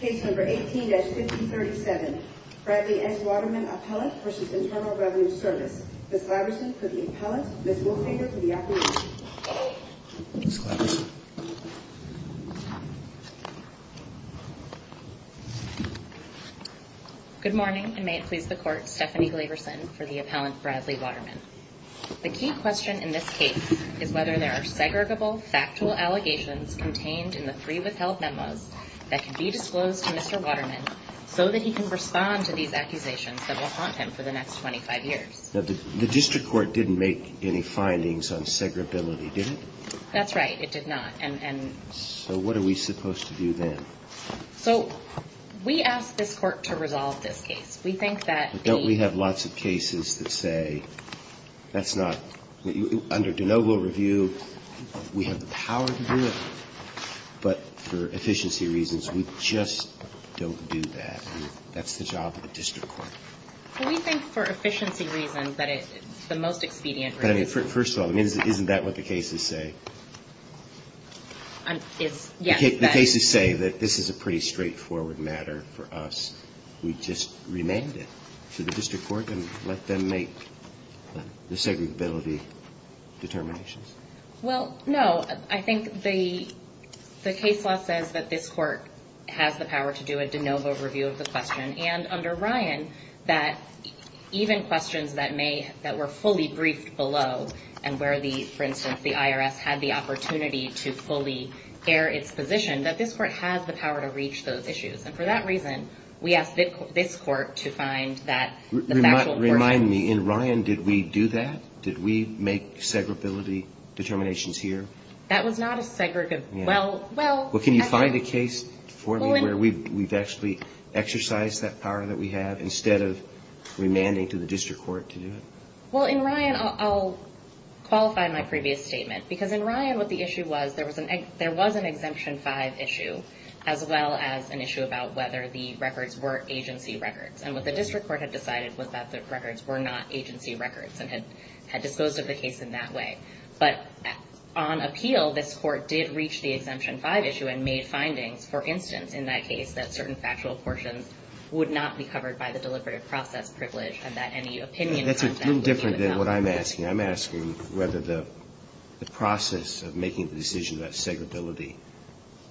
Case No. 18-5037, Bradley S. Waterman Appellant v. Internal Revenue Service. Ms. Glaberson for the Appellant, Ms. Wolfinger for the Appellant. Ms. Glaberson. Good morning, and may it please the Court, Stephanie Glaberson for the Appellant, Bradley Waterman. The key question in this case is whether there are segregable, factual allegations contained in the three withheld memos that can be disclosed to Mr. Waterman so that he can respond to these accusations that will haunt him for the next 25 years. The District Court didn't make any findings on segregability, did it? That's right, it did not. So what are we supposed to do then? So we asked this Court to resolve this case. But don't we have lots of cases that say, under de novo review, we have the power to do it, but for efficiency reasons, we just don't do that, and that's the job of the District Court. Well, we think for efficiency reasons that it's the most expedient. But I mean, first of all, isn't that what the cases say? The cases say that this is a pretty straightforward matter for us. We just remand it to the District Court and let them make the segregability determinations. Well, no. I think the case law says that this Court has the power to do a de novo review of the question. And under Ryan, even questions that were fully briefed below, and where, for instance, the IRS had the opportunity to fully air its position, that this Court has the power to reach those issues. And for that reason, we asked this Court to find that factual version. Remind me, in Ryan, did we do that? Did we make segregability determinations here? That was not a segregable – well, well – Well, can you find a case for me where we've actually exercised that power that we have, instead of remanding to the District Court to do it? Well, in Ryan, I'll qualify my previous statement. Because in Ryan, what the issue was, there was an Exemption 5 issue, as well as an issue about whether the records were agency records. And what the District Court had decided was that the records were not agency records and had disposed of the case in that way. But on appeal, this Court did reach the Exemption 5 issue and made findings. For instance, in that case, that certain factual portions would not be covered by the deliberative process privilege, and that any opinion on that would be withheld. That's a little different than what I'm asking. I'm asking whether the process of making the decision about segregability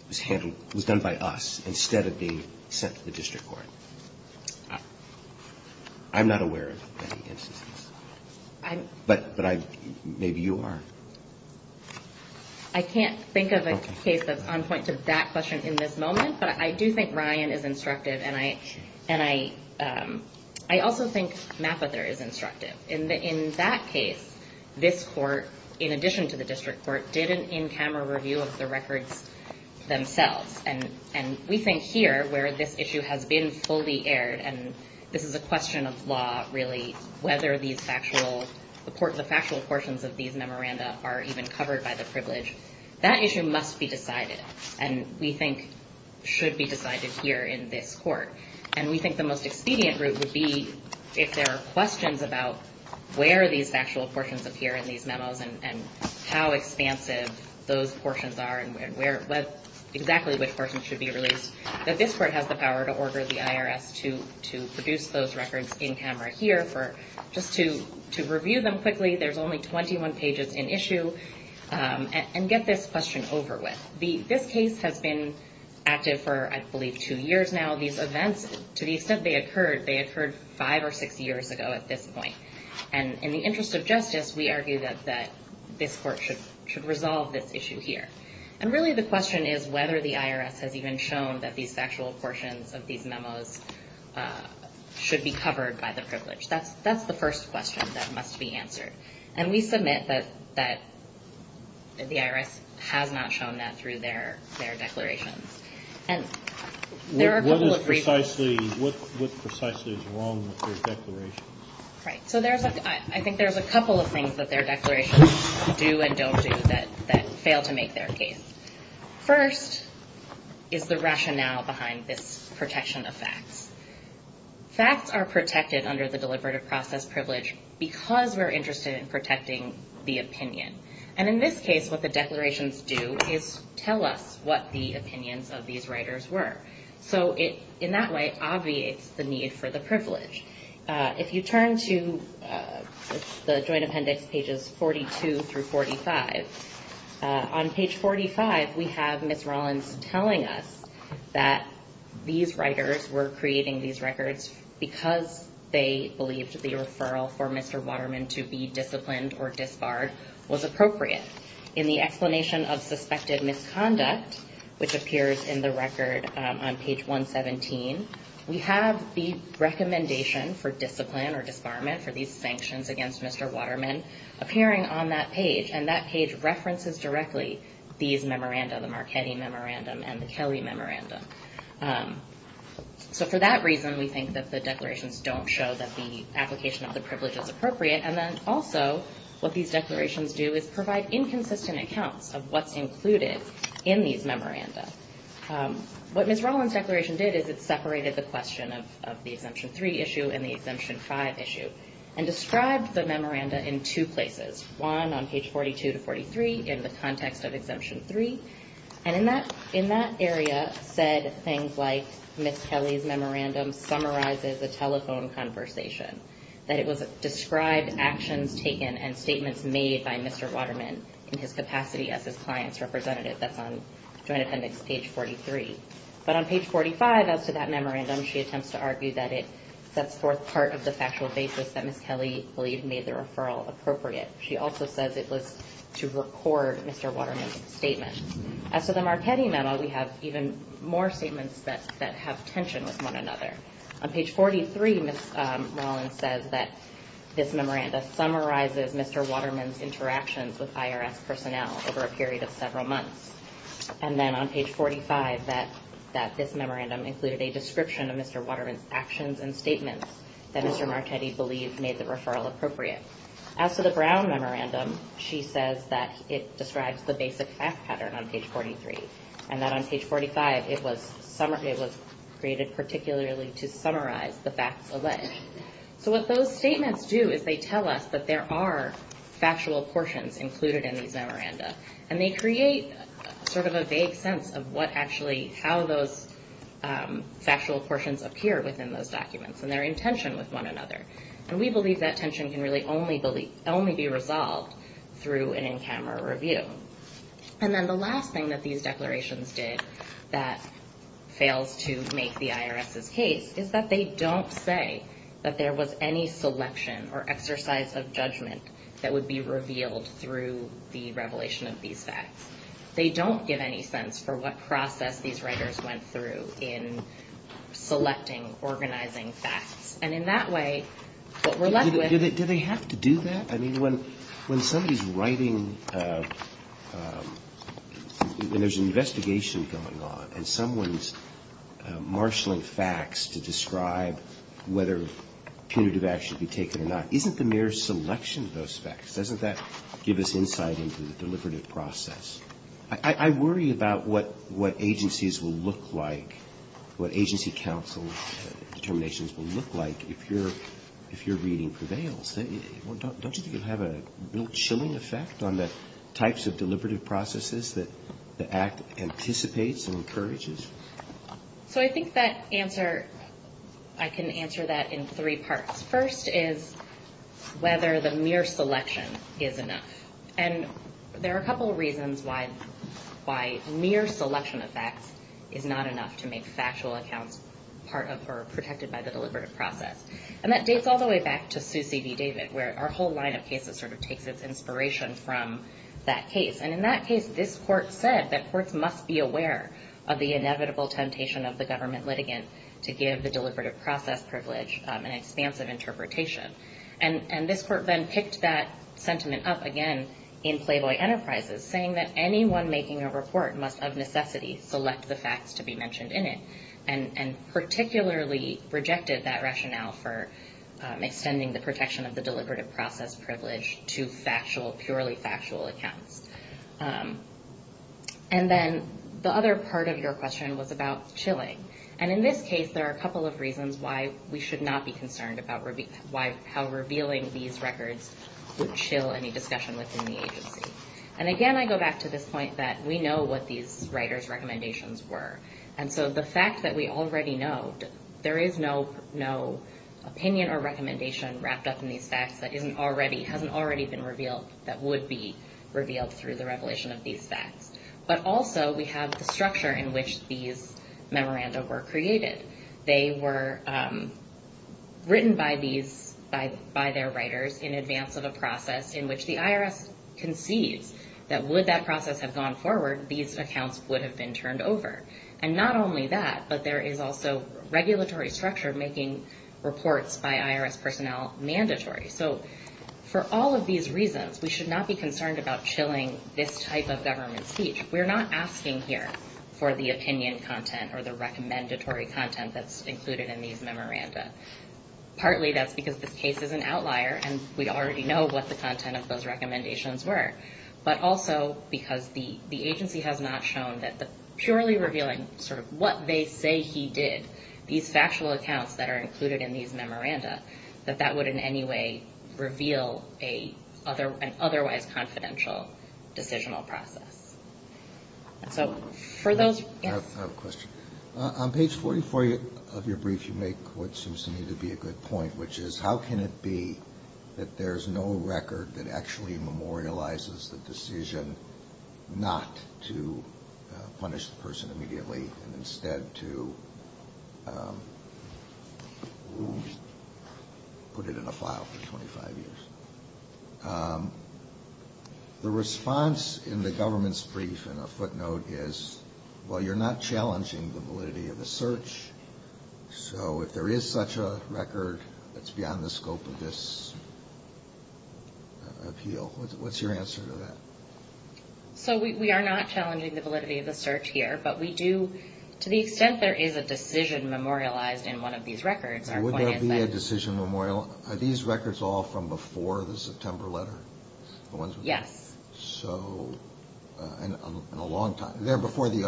was handled – was done by us, instead of being sent to the District Court. I'm not aware of any instances. But I – maybe you are. I can't think of a case that's on point to that question in this moment. But I do think Ryan is instructive, and I – and I – I also think Mapather is instructive. In that case, this Court, in addition to the District Court, did an in-camera review of the records themselves. And we think here, where this issue has been fully aired – and this is a question of law, really, whether these factual – the factual portions of these memoranda are even covered by the privilege – that issue must be decided, and we think should be decided here in this Court. And we think the most expedient route would be, if there are questions about where these factual portions appear in these memos, and how expansive those portions are, and where – exactly which portions should be released, that this Court has the power to order the IRS to produce those records in-camera here for – just to review them quickly. There's only 21 pages in issue, and get this question over with. This case has been active for, I believe, two years now. These events, to the extent they occurred, they occurred five or six years ago at this point. And in the interest of justice, we argue that this Court should resolve this issue here. And really, the question is whether the IRS has even shown that these factual portions of these memos should be covered by the privilege. That's the first question that must be answered. And we submit that the IRS has not shown that through their declarations. And there are a couple of reasons. What is precisely – what precisely is wrong with their declarations? Right. So there's – I think there's a couple of things that their declarations do and don't do that fail to make their case. First is the rationale behind this protection of facts. Facts are protected under the Deliberative Process Privilege because we're interested in protecting the opinion. And in this case, what the declarations do is tell us what the opinions of these writers were. So it, in that way, obviates the need for the privilege. If you turn to the Joint Appendix, pages 42 through 45, on page 45, we have Ms. Rollins telling us that these writers were creating these records because they believed the referral for Mr. Waterman to be disciplined or disbarred was appropriate. In the explanation of suspected misconduct, which appears in the record on page 117, we have the recommendation for discipline or disbarment for these sanctions against Mr. Waterman appearing on that page. And that page references directly these memoranda, the Marchetti Memorandum and the Kelly Memorandum. So for that reason, we think that the declarations don't show that the application of the privilege is appropriate. And then also, what these declarations do is provide inconsistent accounts of what's included in these memoranda. What Ms. Rollins' declaration did is it separated the question of the Exemption 3 issue and the Exemption 5 issue and described the memoranda in two places, one on page 42 to 43 in the context of Exemption 3. And in that area said things like Ms. Kelly's memorandum summarizes a telephone conversation, that it described actions taken and statements made by Mr. Waterman in his capacity as his client's representative. That's on Joint Appendix page 43. But on page 45, as to that memorandum, she attempts to argue that it sets forth part of the factual basis that Ms. Kelly believed made the referral appropriate. She also says it was to record Mr. Waterman's statement. As to the Marchetti memo, we have even more statements that have tension with one another. On page 43, Ms. Rollins says that this memoranda summarizes Mr. Waterman's interactions with IRS personnel over a period of several months. And then on page 45, that this memorandum included a description of Mr. Waterman's actions and statements that Mr. Marchetti believed made the referral appropriate. As to the Brown memorandum, she says that it describes the basic fact pattern on page 43. And that on page 45, it was created particularly to summarize the facts alleged. So what those statements do is they tell us that there are factual portions included in these memoranda. And they create sort of a vague sense of what actually, how those factual portions appear within those documents and their intention with one another. And we believe that tension can really only be resolved through an in-camera review. And then the last thing that these declarations did that fails to make the IRS's case is that they don't say that there was any selection or exercise of judgment that would be revealed through the revelation of these facts. They don't give any sense for what process these writers went through in selecting, organizing facts. And in that way, what we're left with — Do they have to do that? I mean, when somebody's writing, when there's an investigation going on and someone's marshaling facts to describe whether punitive action should be taken or not, isn't the mere selection of those facts, doesn't that give us insight into the deliberative process? I worry about what agencies will look like, what agency counsel determinations will look like if your reading prevails. Don't you think it will have a chilling effect on the types of deliberative processes that the Act anticipates and encourages? So I think that answer, I can answer that in three parts. First is whether the mere selection is enough. And there are a couple of reasons why mere selection of facts is not enough to make factual accounts part of or protected by the deliberative process. And that dates all the way back to Sue C. D. David, where our whole line of cases sort of takes its inspiration from that case. And in that case, this court said that courts must be aware of the inevitable temptation of the government litigant to give the deliberative process privilege an expansive interpretation. And this court then picked that sentiment up again in Playboy Enterprises, saying that anyone making a report must, of necessity, select the facts to be mentioned in it, and particularly rejected that rationale for extending the protection of the deliberative process privilege to purely factual accounts. And then the other part of your question was about chilling. And in this case, there are a couple of reasons why we should not be concerned about how revealing these records would chill any discussion within the agency. And again, I go back to this point that we know what these writers' recommendations were. And so the fact that we already know, there is no opinion or recommendation wrapped up in these facts that hasn't already been revealed, that would be revealed through the revelation of these facts. But also, we have the structure in which these memoranda were created. They were written by their writers in advance of a process in which the IRS concedes that would that process have gone forward, these accounts would have been turned over. And not only that, but there is also regulatory structure making reports by IRS personnel mandatory. So for all of these reasons, we should not be concerned about chilling this type of government speech. We're not asking here for the opinion content or the recommendatory content that's included in these memoranda. Partly that's because this case is an outlier, and we already know what the content of those recommendations were. But also because the agency has not shown that the purely revealing sort of what they say he did, these factual accounts that are included in these memoranda, that that would in any way reveal an otherwise confidential decisional process. So for those... I have a question. On page 44 of your brief, you make what seems to me to be a good point, which is how can it be that there's no record that actually memorializes the decision not to punish the person immediately and instead to put it in a file for 25 years? The response in the government's brief in a footnote is, well, you're not challenging the validity of the search, so if there is such a record that's beyond the scope of this appeal, what's your answer to that? So we are not challenging the validity of the search here, but we do... To the extent there is a decision memorialized in one of these records, our point is that... Would there be a decision memorial... Are these records all from before the September letter? Yes. So in a long time. They're before the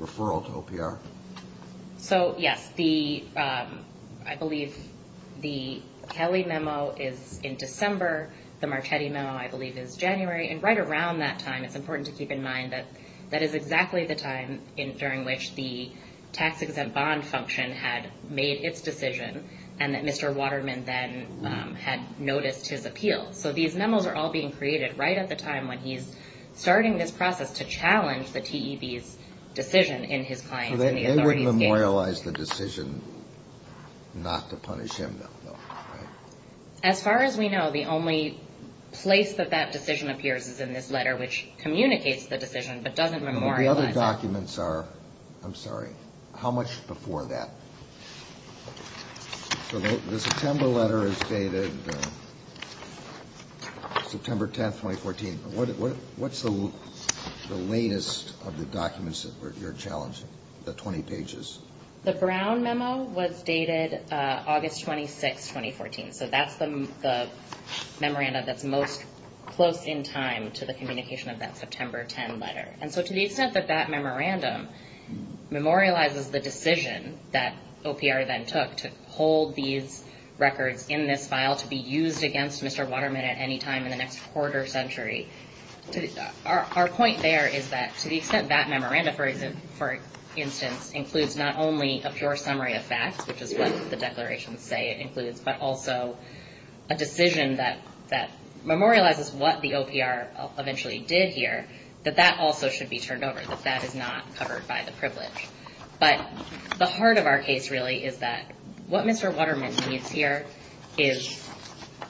referral to OPR. So, yes, I believe the Kelly memo is in December. The Marchetti memo, I believe, is January. And right around that time, it's important to keep in mind that that is exactly the time during which the tax-exempt bond function had made its decision and that Mr. Waterman then had noticed his appeal. So these memos are all being created right at the time when he's starting this process to challenge the TEB's decision in his client's and the authorities' case. So they wouldn't memorialize the decision not to punish him, though, right? As far as we know, the only place that that decision appears is in this letter, which communicates the decision but doesn't memorialize it. The other documents are, I'm sorry, how much before that? So the September letter is dated September 10, 2014. What's the latest of the documents that you're challenging, the 20 pages? The Brown memo was dated August 26, 2014. So that's the memorandum that's most close in time to the communication of that September 10 letter. And so to the extent that that memorandum memorializes the decision that OPR then took to hold these records in this file to be used against Mr. Waterman at any time in the next quarter century, our point there is that to the extent that memorandum, for instance, includes not only a pure summary of facts, which is what the declarations say it includes, but also a decision that memorializes what the OPR eventually did here, that that also should be turned over, that that is not covered by the privilege. But the heart of our case really is that what Mr. Waterman needs here is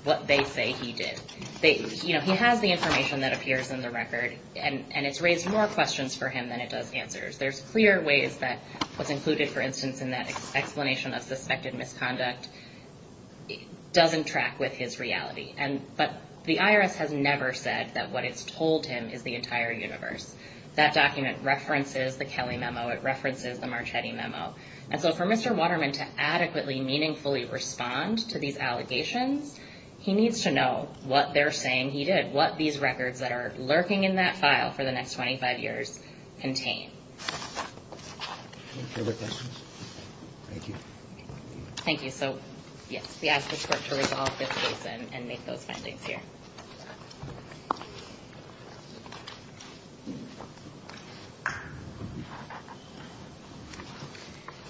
what they say he did. He has the information that appears in the record, and it's raised more questions for him than it does answers. There's clear ways that what's included, for instance, in that explanation of suspected misconduct doesn't track with his reality. But the IRS has never said that what it's told him is the entire universe. That document references the Kelly memo. It references the Marchetti memo. And so for Mr. Waterman to adequately, meaningfully respond to these allegations, he needs to know what they're saying he did, what these records that are lurking in that file for the next 25 years contain. Any further questions? Thank you. Thank you. So, yes, we ask the Court to resolve this case and make those findings here.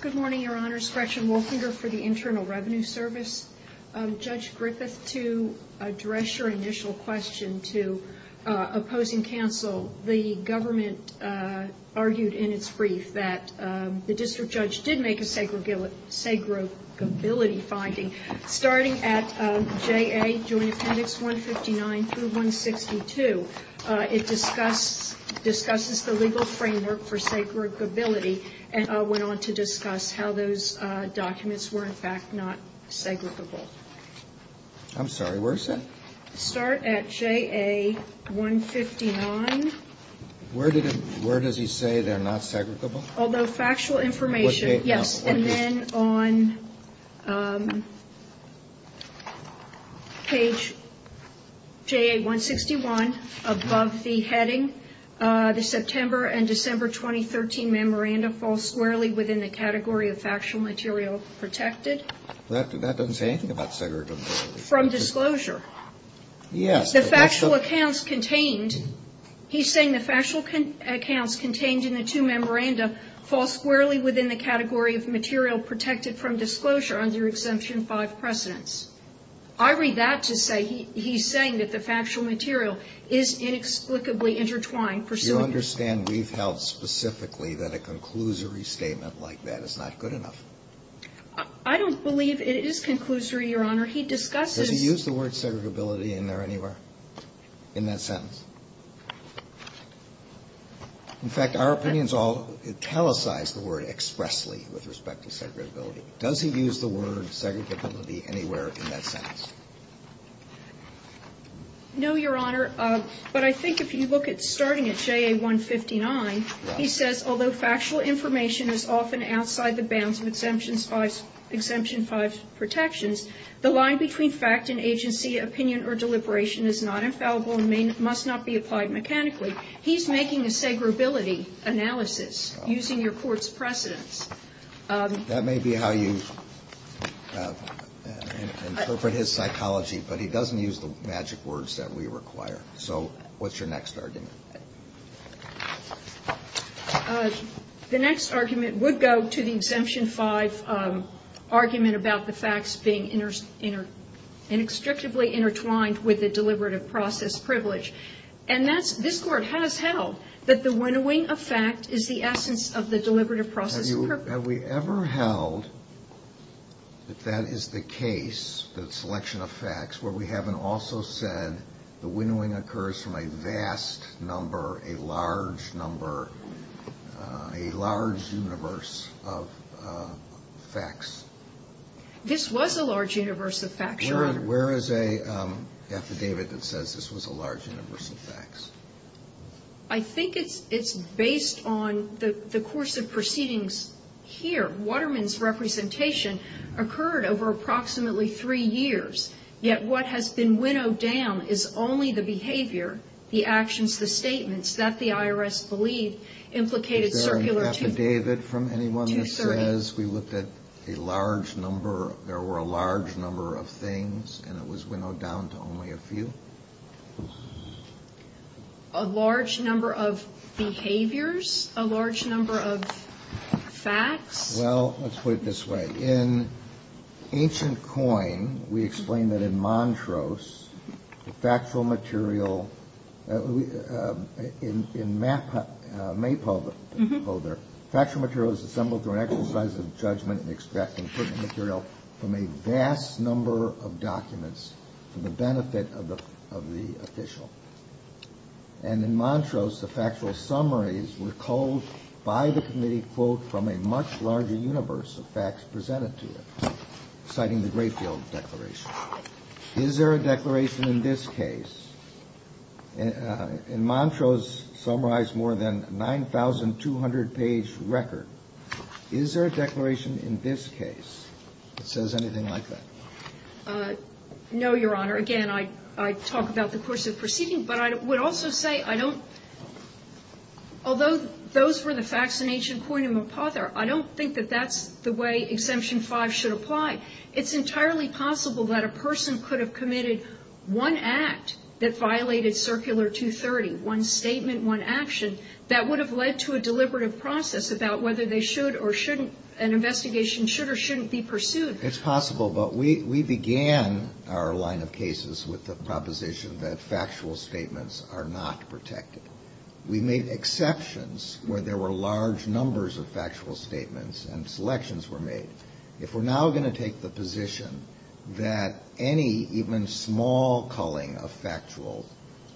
Good morning, Your Honors. Gretchen Wolfinger for the Internal Revenue Service. Judge Griffith, to address your initial question to opposing counsel, the government argued in its brief that the district judge did make a segregability finding. Starting at JA Joint Appendix 159 through 162, it discusses the legal framework for segregability and went on to discuss how those documents were, in fact, not segregable. I'm sorry, where is that? Start at JA 159. Where did it, where does he say they're not segregable? Although factual information, yes. And then on page JA 161, above the heading, the September and December 2013 memoranda fall squarely within the category of factual material protected. That doesn't say anything about segregability. From disclosure. Yes. The factual accounts contained, he's saying the factual accounts contained in the two memoranda fall squarely within the category of material protected from disclosure under Exemption 5 precedents. I read that to say he's saying that the factual material is inexplicably intertwined. Do you understand we've held specifically that a conclusory statement like that is not good enough? I don't believe it is conclusory, Your Honor. He discusses. Does he use the word segregability in there anywhere in that sentence? In fact, our opinions all italicize the word expressly with respect to segregability. Does he use the word segregability anywhere in that sentence? No, Your Honor. But I think if you look at starting at JA 159, he says, although factual information is often outside the bounds of Exemption 5 protections, the line between fact and agency, opinion or deliberation is not infallible and must not be applied mechanically. He's making a segregability analysis using your Court's precedents. That may be how you interpret his psychology, but he doesn't use the magic words that we require. So what's your next argument? The next argument would go to the Exemption 5 argument about the facts being inextricably intertwined with the deliberative process privilege. And this Court has held that the winnowing of fact is the essence of the deliberative process. Have we ever held that that is the case, that selection of facts, where we haven't also said the winnowing occurs from a vast number, a large number, a large universe of facts? This was a large universe of facts, Your Honor. Where is a affidavit that says this was a large universe of facts? I think it's based on the course of proceedings here. Waterman's representation occurred over approximately three years, yet what has been winnowed down is only the behavior, the actions, the statements, that the IRS believed implicated circular two. Is there an affidavit from anyone that says we looked at a large number, there were a large number of things and it was winnowed down to only a few? A large number of behaviors, a large number of facts? Well, let's put it this way. In Ancient Coin, we explain that in Montrose, the factual material, in Maypolder, factual material is assembled through an exercise of judgment in extracting pertinent material from a vast number of documents for the benefit of the official. And in Montrose, the factual summaries were culled by the committee, quote, from a much larger universe of facts presented to them, citing the Grayfield Declaration. Is there a declaration in this case? In Montrose summarized more than a 9,200-page record. Is there a declaration in this case that says anything like that? No, Your Honor. Again, I talk about the course of proceeding, but I would also say I don't, although those were the facts in Ancient Coin and Maypolder, I don't think that that's the way Exemption 5 should apply. It's entirely possible that a person could have committed one act that violated Circular 230, one statement, one action, that would have led to a deliberative process about whether they should or shouldn't, an investigation should or shouldn't be pursued. It's possible, but we began our line of cases with the proposition that factual statements are not protected. We made exceptions where there were large numbers of factual statements and selections were made. If we're now going to take the position that any even small culling of factual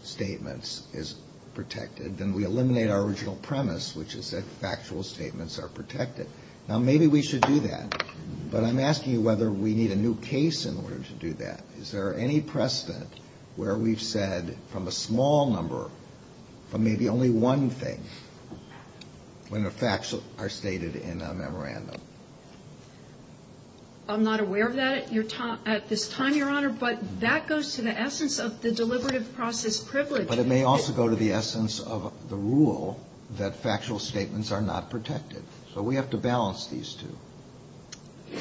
statements is protected, then we eliminate our original premise, which is that factual statements are protected. Now, maybe we should do that. But I'm asking you whether we need a new case in order to do that. Is there any precedent where we've said from a small number, from maybe only one thing, when the facts are stated in a memorandum? I'm not aware of that at this time, Your Honor, but that goes to the essence of the deliberative process privilege. But it may also go to the essence of the rule that factual statements are not protected. So we have to balance these two.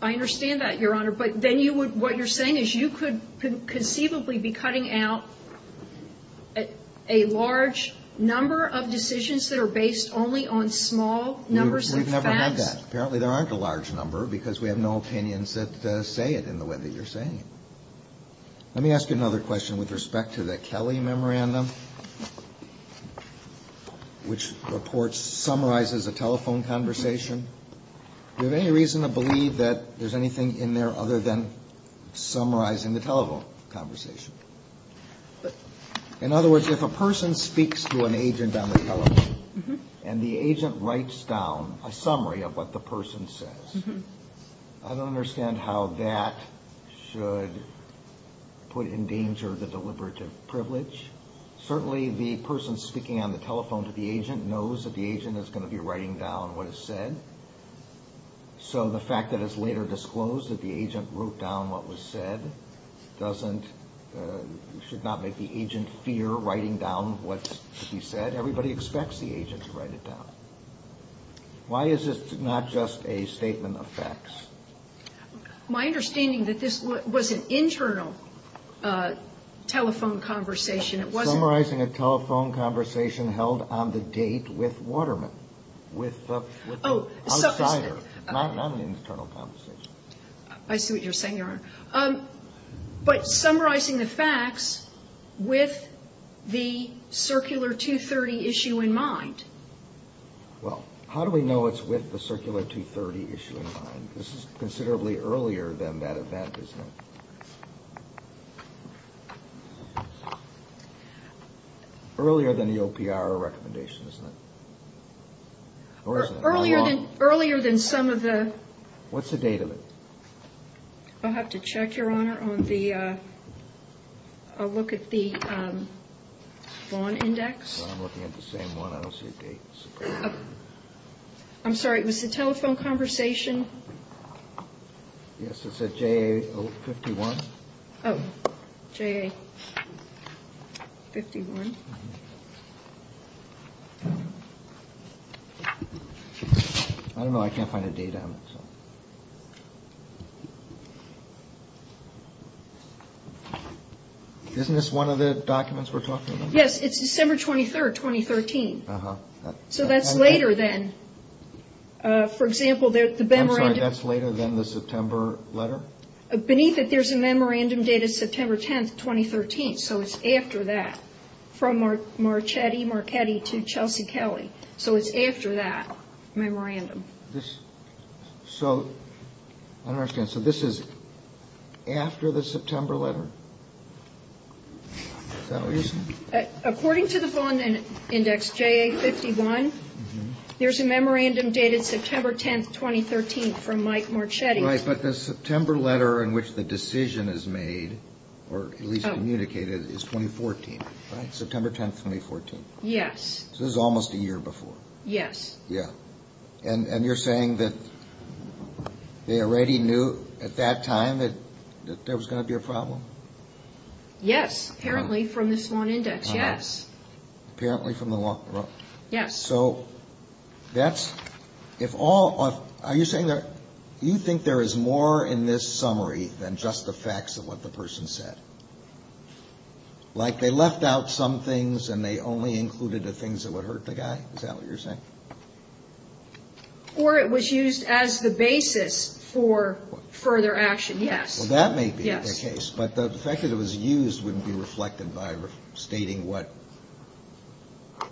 I understand that, Your Honor. But then you would, what you're saying is you could conceivably be cutting out a large number of decisions that are based only on small numbers of facts. We've never had that. Apparently, there aren't a large number because we have no opinions that say it in the way that you're saying it. Let me ask you another question with respect to the Kelly memorandum, which reports summarizes a telephone conversation. Do you have any reason to believe that there's anything in there other than summarizing the telephone conversation? In other words, if a person speaks to an agent on the telephone, and the agent writes down a summary of what the person says, I don't understand how that should put in danger the deliberative privilege. Certainly the person speaking on the telephone to the agent knows that the agent is going to be writing down what is said. So the fact that it's later disclosed that the agent wrote down what was said should not make the agent fear writing down what should be said. Everybody expects the agent to write it down. Why is this not just a statement of facts? My understanding that this was an internal telephone conversation. It wasn't. Summarizing a telephone conversation held on the date with Waterman, with the outsider. Not an internal conversation. I see what you're saying, Your Honor. But summarizing the facts with the Circular 230 issue in mind. Well, how do we know it's with the Circular 230 issue in mind? This is considerably earlier than that event, isn't it? Earlier than the OPR recommendation, isn't it? Earlier than some of the. What's the date of it? I'll have to check, Your Honor, on the, I'll look at the Vaughn index. I'm looking at the same one. I don't see a date. I'm sorry. It was the telephone conversation. Yes. It's a J.O. 51. Oh, J.A. 51. I don't know. I can't find a date on it. Isn't this one of the documents we're talking about? Yes, it's December 23rd, 2013. Uh-huh. So that's later than, for example, the memorandum. I'm sorry. That's later than the September letter? Beneath it, there's a memorandum dated September 10th, 2013. So it's after that, from Marchetti to Chelsea Kelly. So it's after that memorandum. So I don't understand. So this is after the September letter? Is that what you're saying? According to the Vaughn index, J.A. 51, there's a memorandum dated September 10th, 2013 from Mike Marchetti. Right. But the September letter in which the decision is made, or at least communicated, is 2014. Right. September 10th, 2014. Yes. So this is almost a year before. Yes. Yeah. And you're saying that they already knew at that time that there was going to be a problem? Yes. Apparently from this Vaughn index. Yes. Apparently from the law? Yes. So that's – if all – are you saying that you think there is more in this summary than just the facts of what the person said? Like they left out some things and they only included the things that would hurt the guy? Is that what you're saying? Or it was used as the basis for further action. Yes. Well, that may be the case. But the fact that it was used wouldn't be reflected by stating what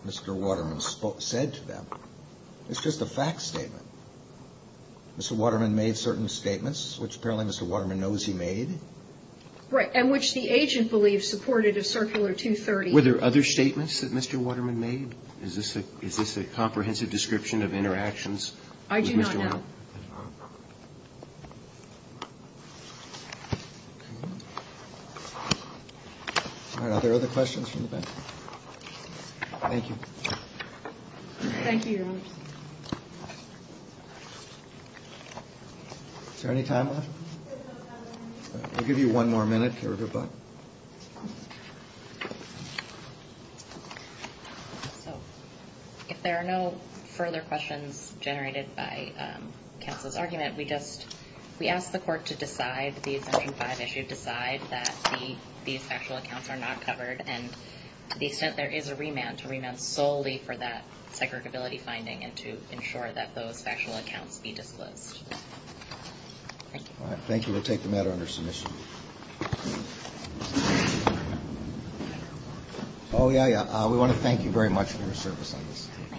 Mr. Waterman said to them. It's just a fact statement. Mr. Waterman made certain statements, which apparently Mr. Waterman knows he made. Right. And which the agent believes supported a Circular 230. Were there other statements that Mr. Waterman made? I do not know. All right. Are there other questions from the panel? Thank you. Thank you. Is there any time left? We'll give you one more minute. Okay, we're good, bye. So, if there are no further questions generated by counsel's argument, we just, we ask the court to decide, the exemption 5 issue, decide that these factual accounts are not covered, and to the extent there is a remand, to remand solely for that segregability finding and to ensure that those factual accounts be disclosed. Thank you. All right, thank you. We'll take the matter under submission. Oh, yeah, yeah. We want to thank you very much for your service on this. Thank you.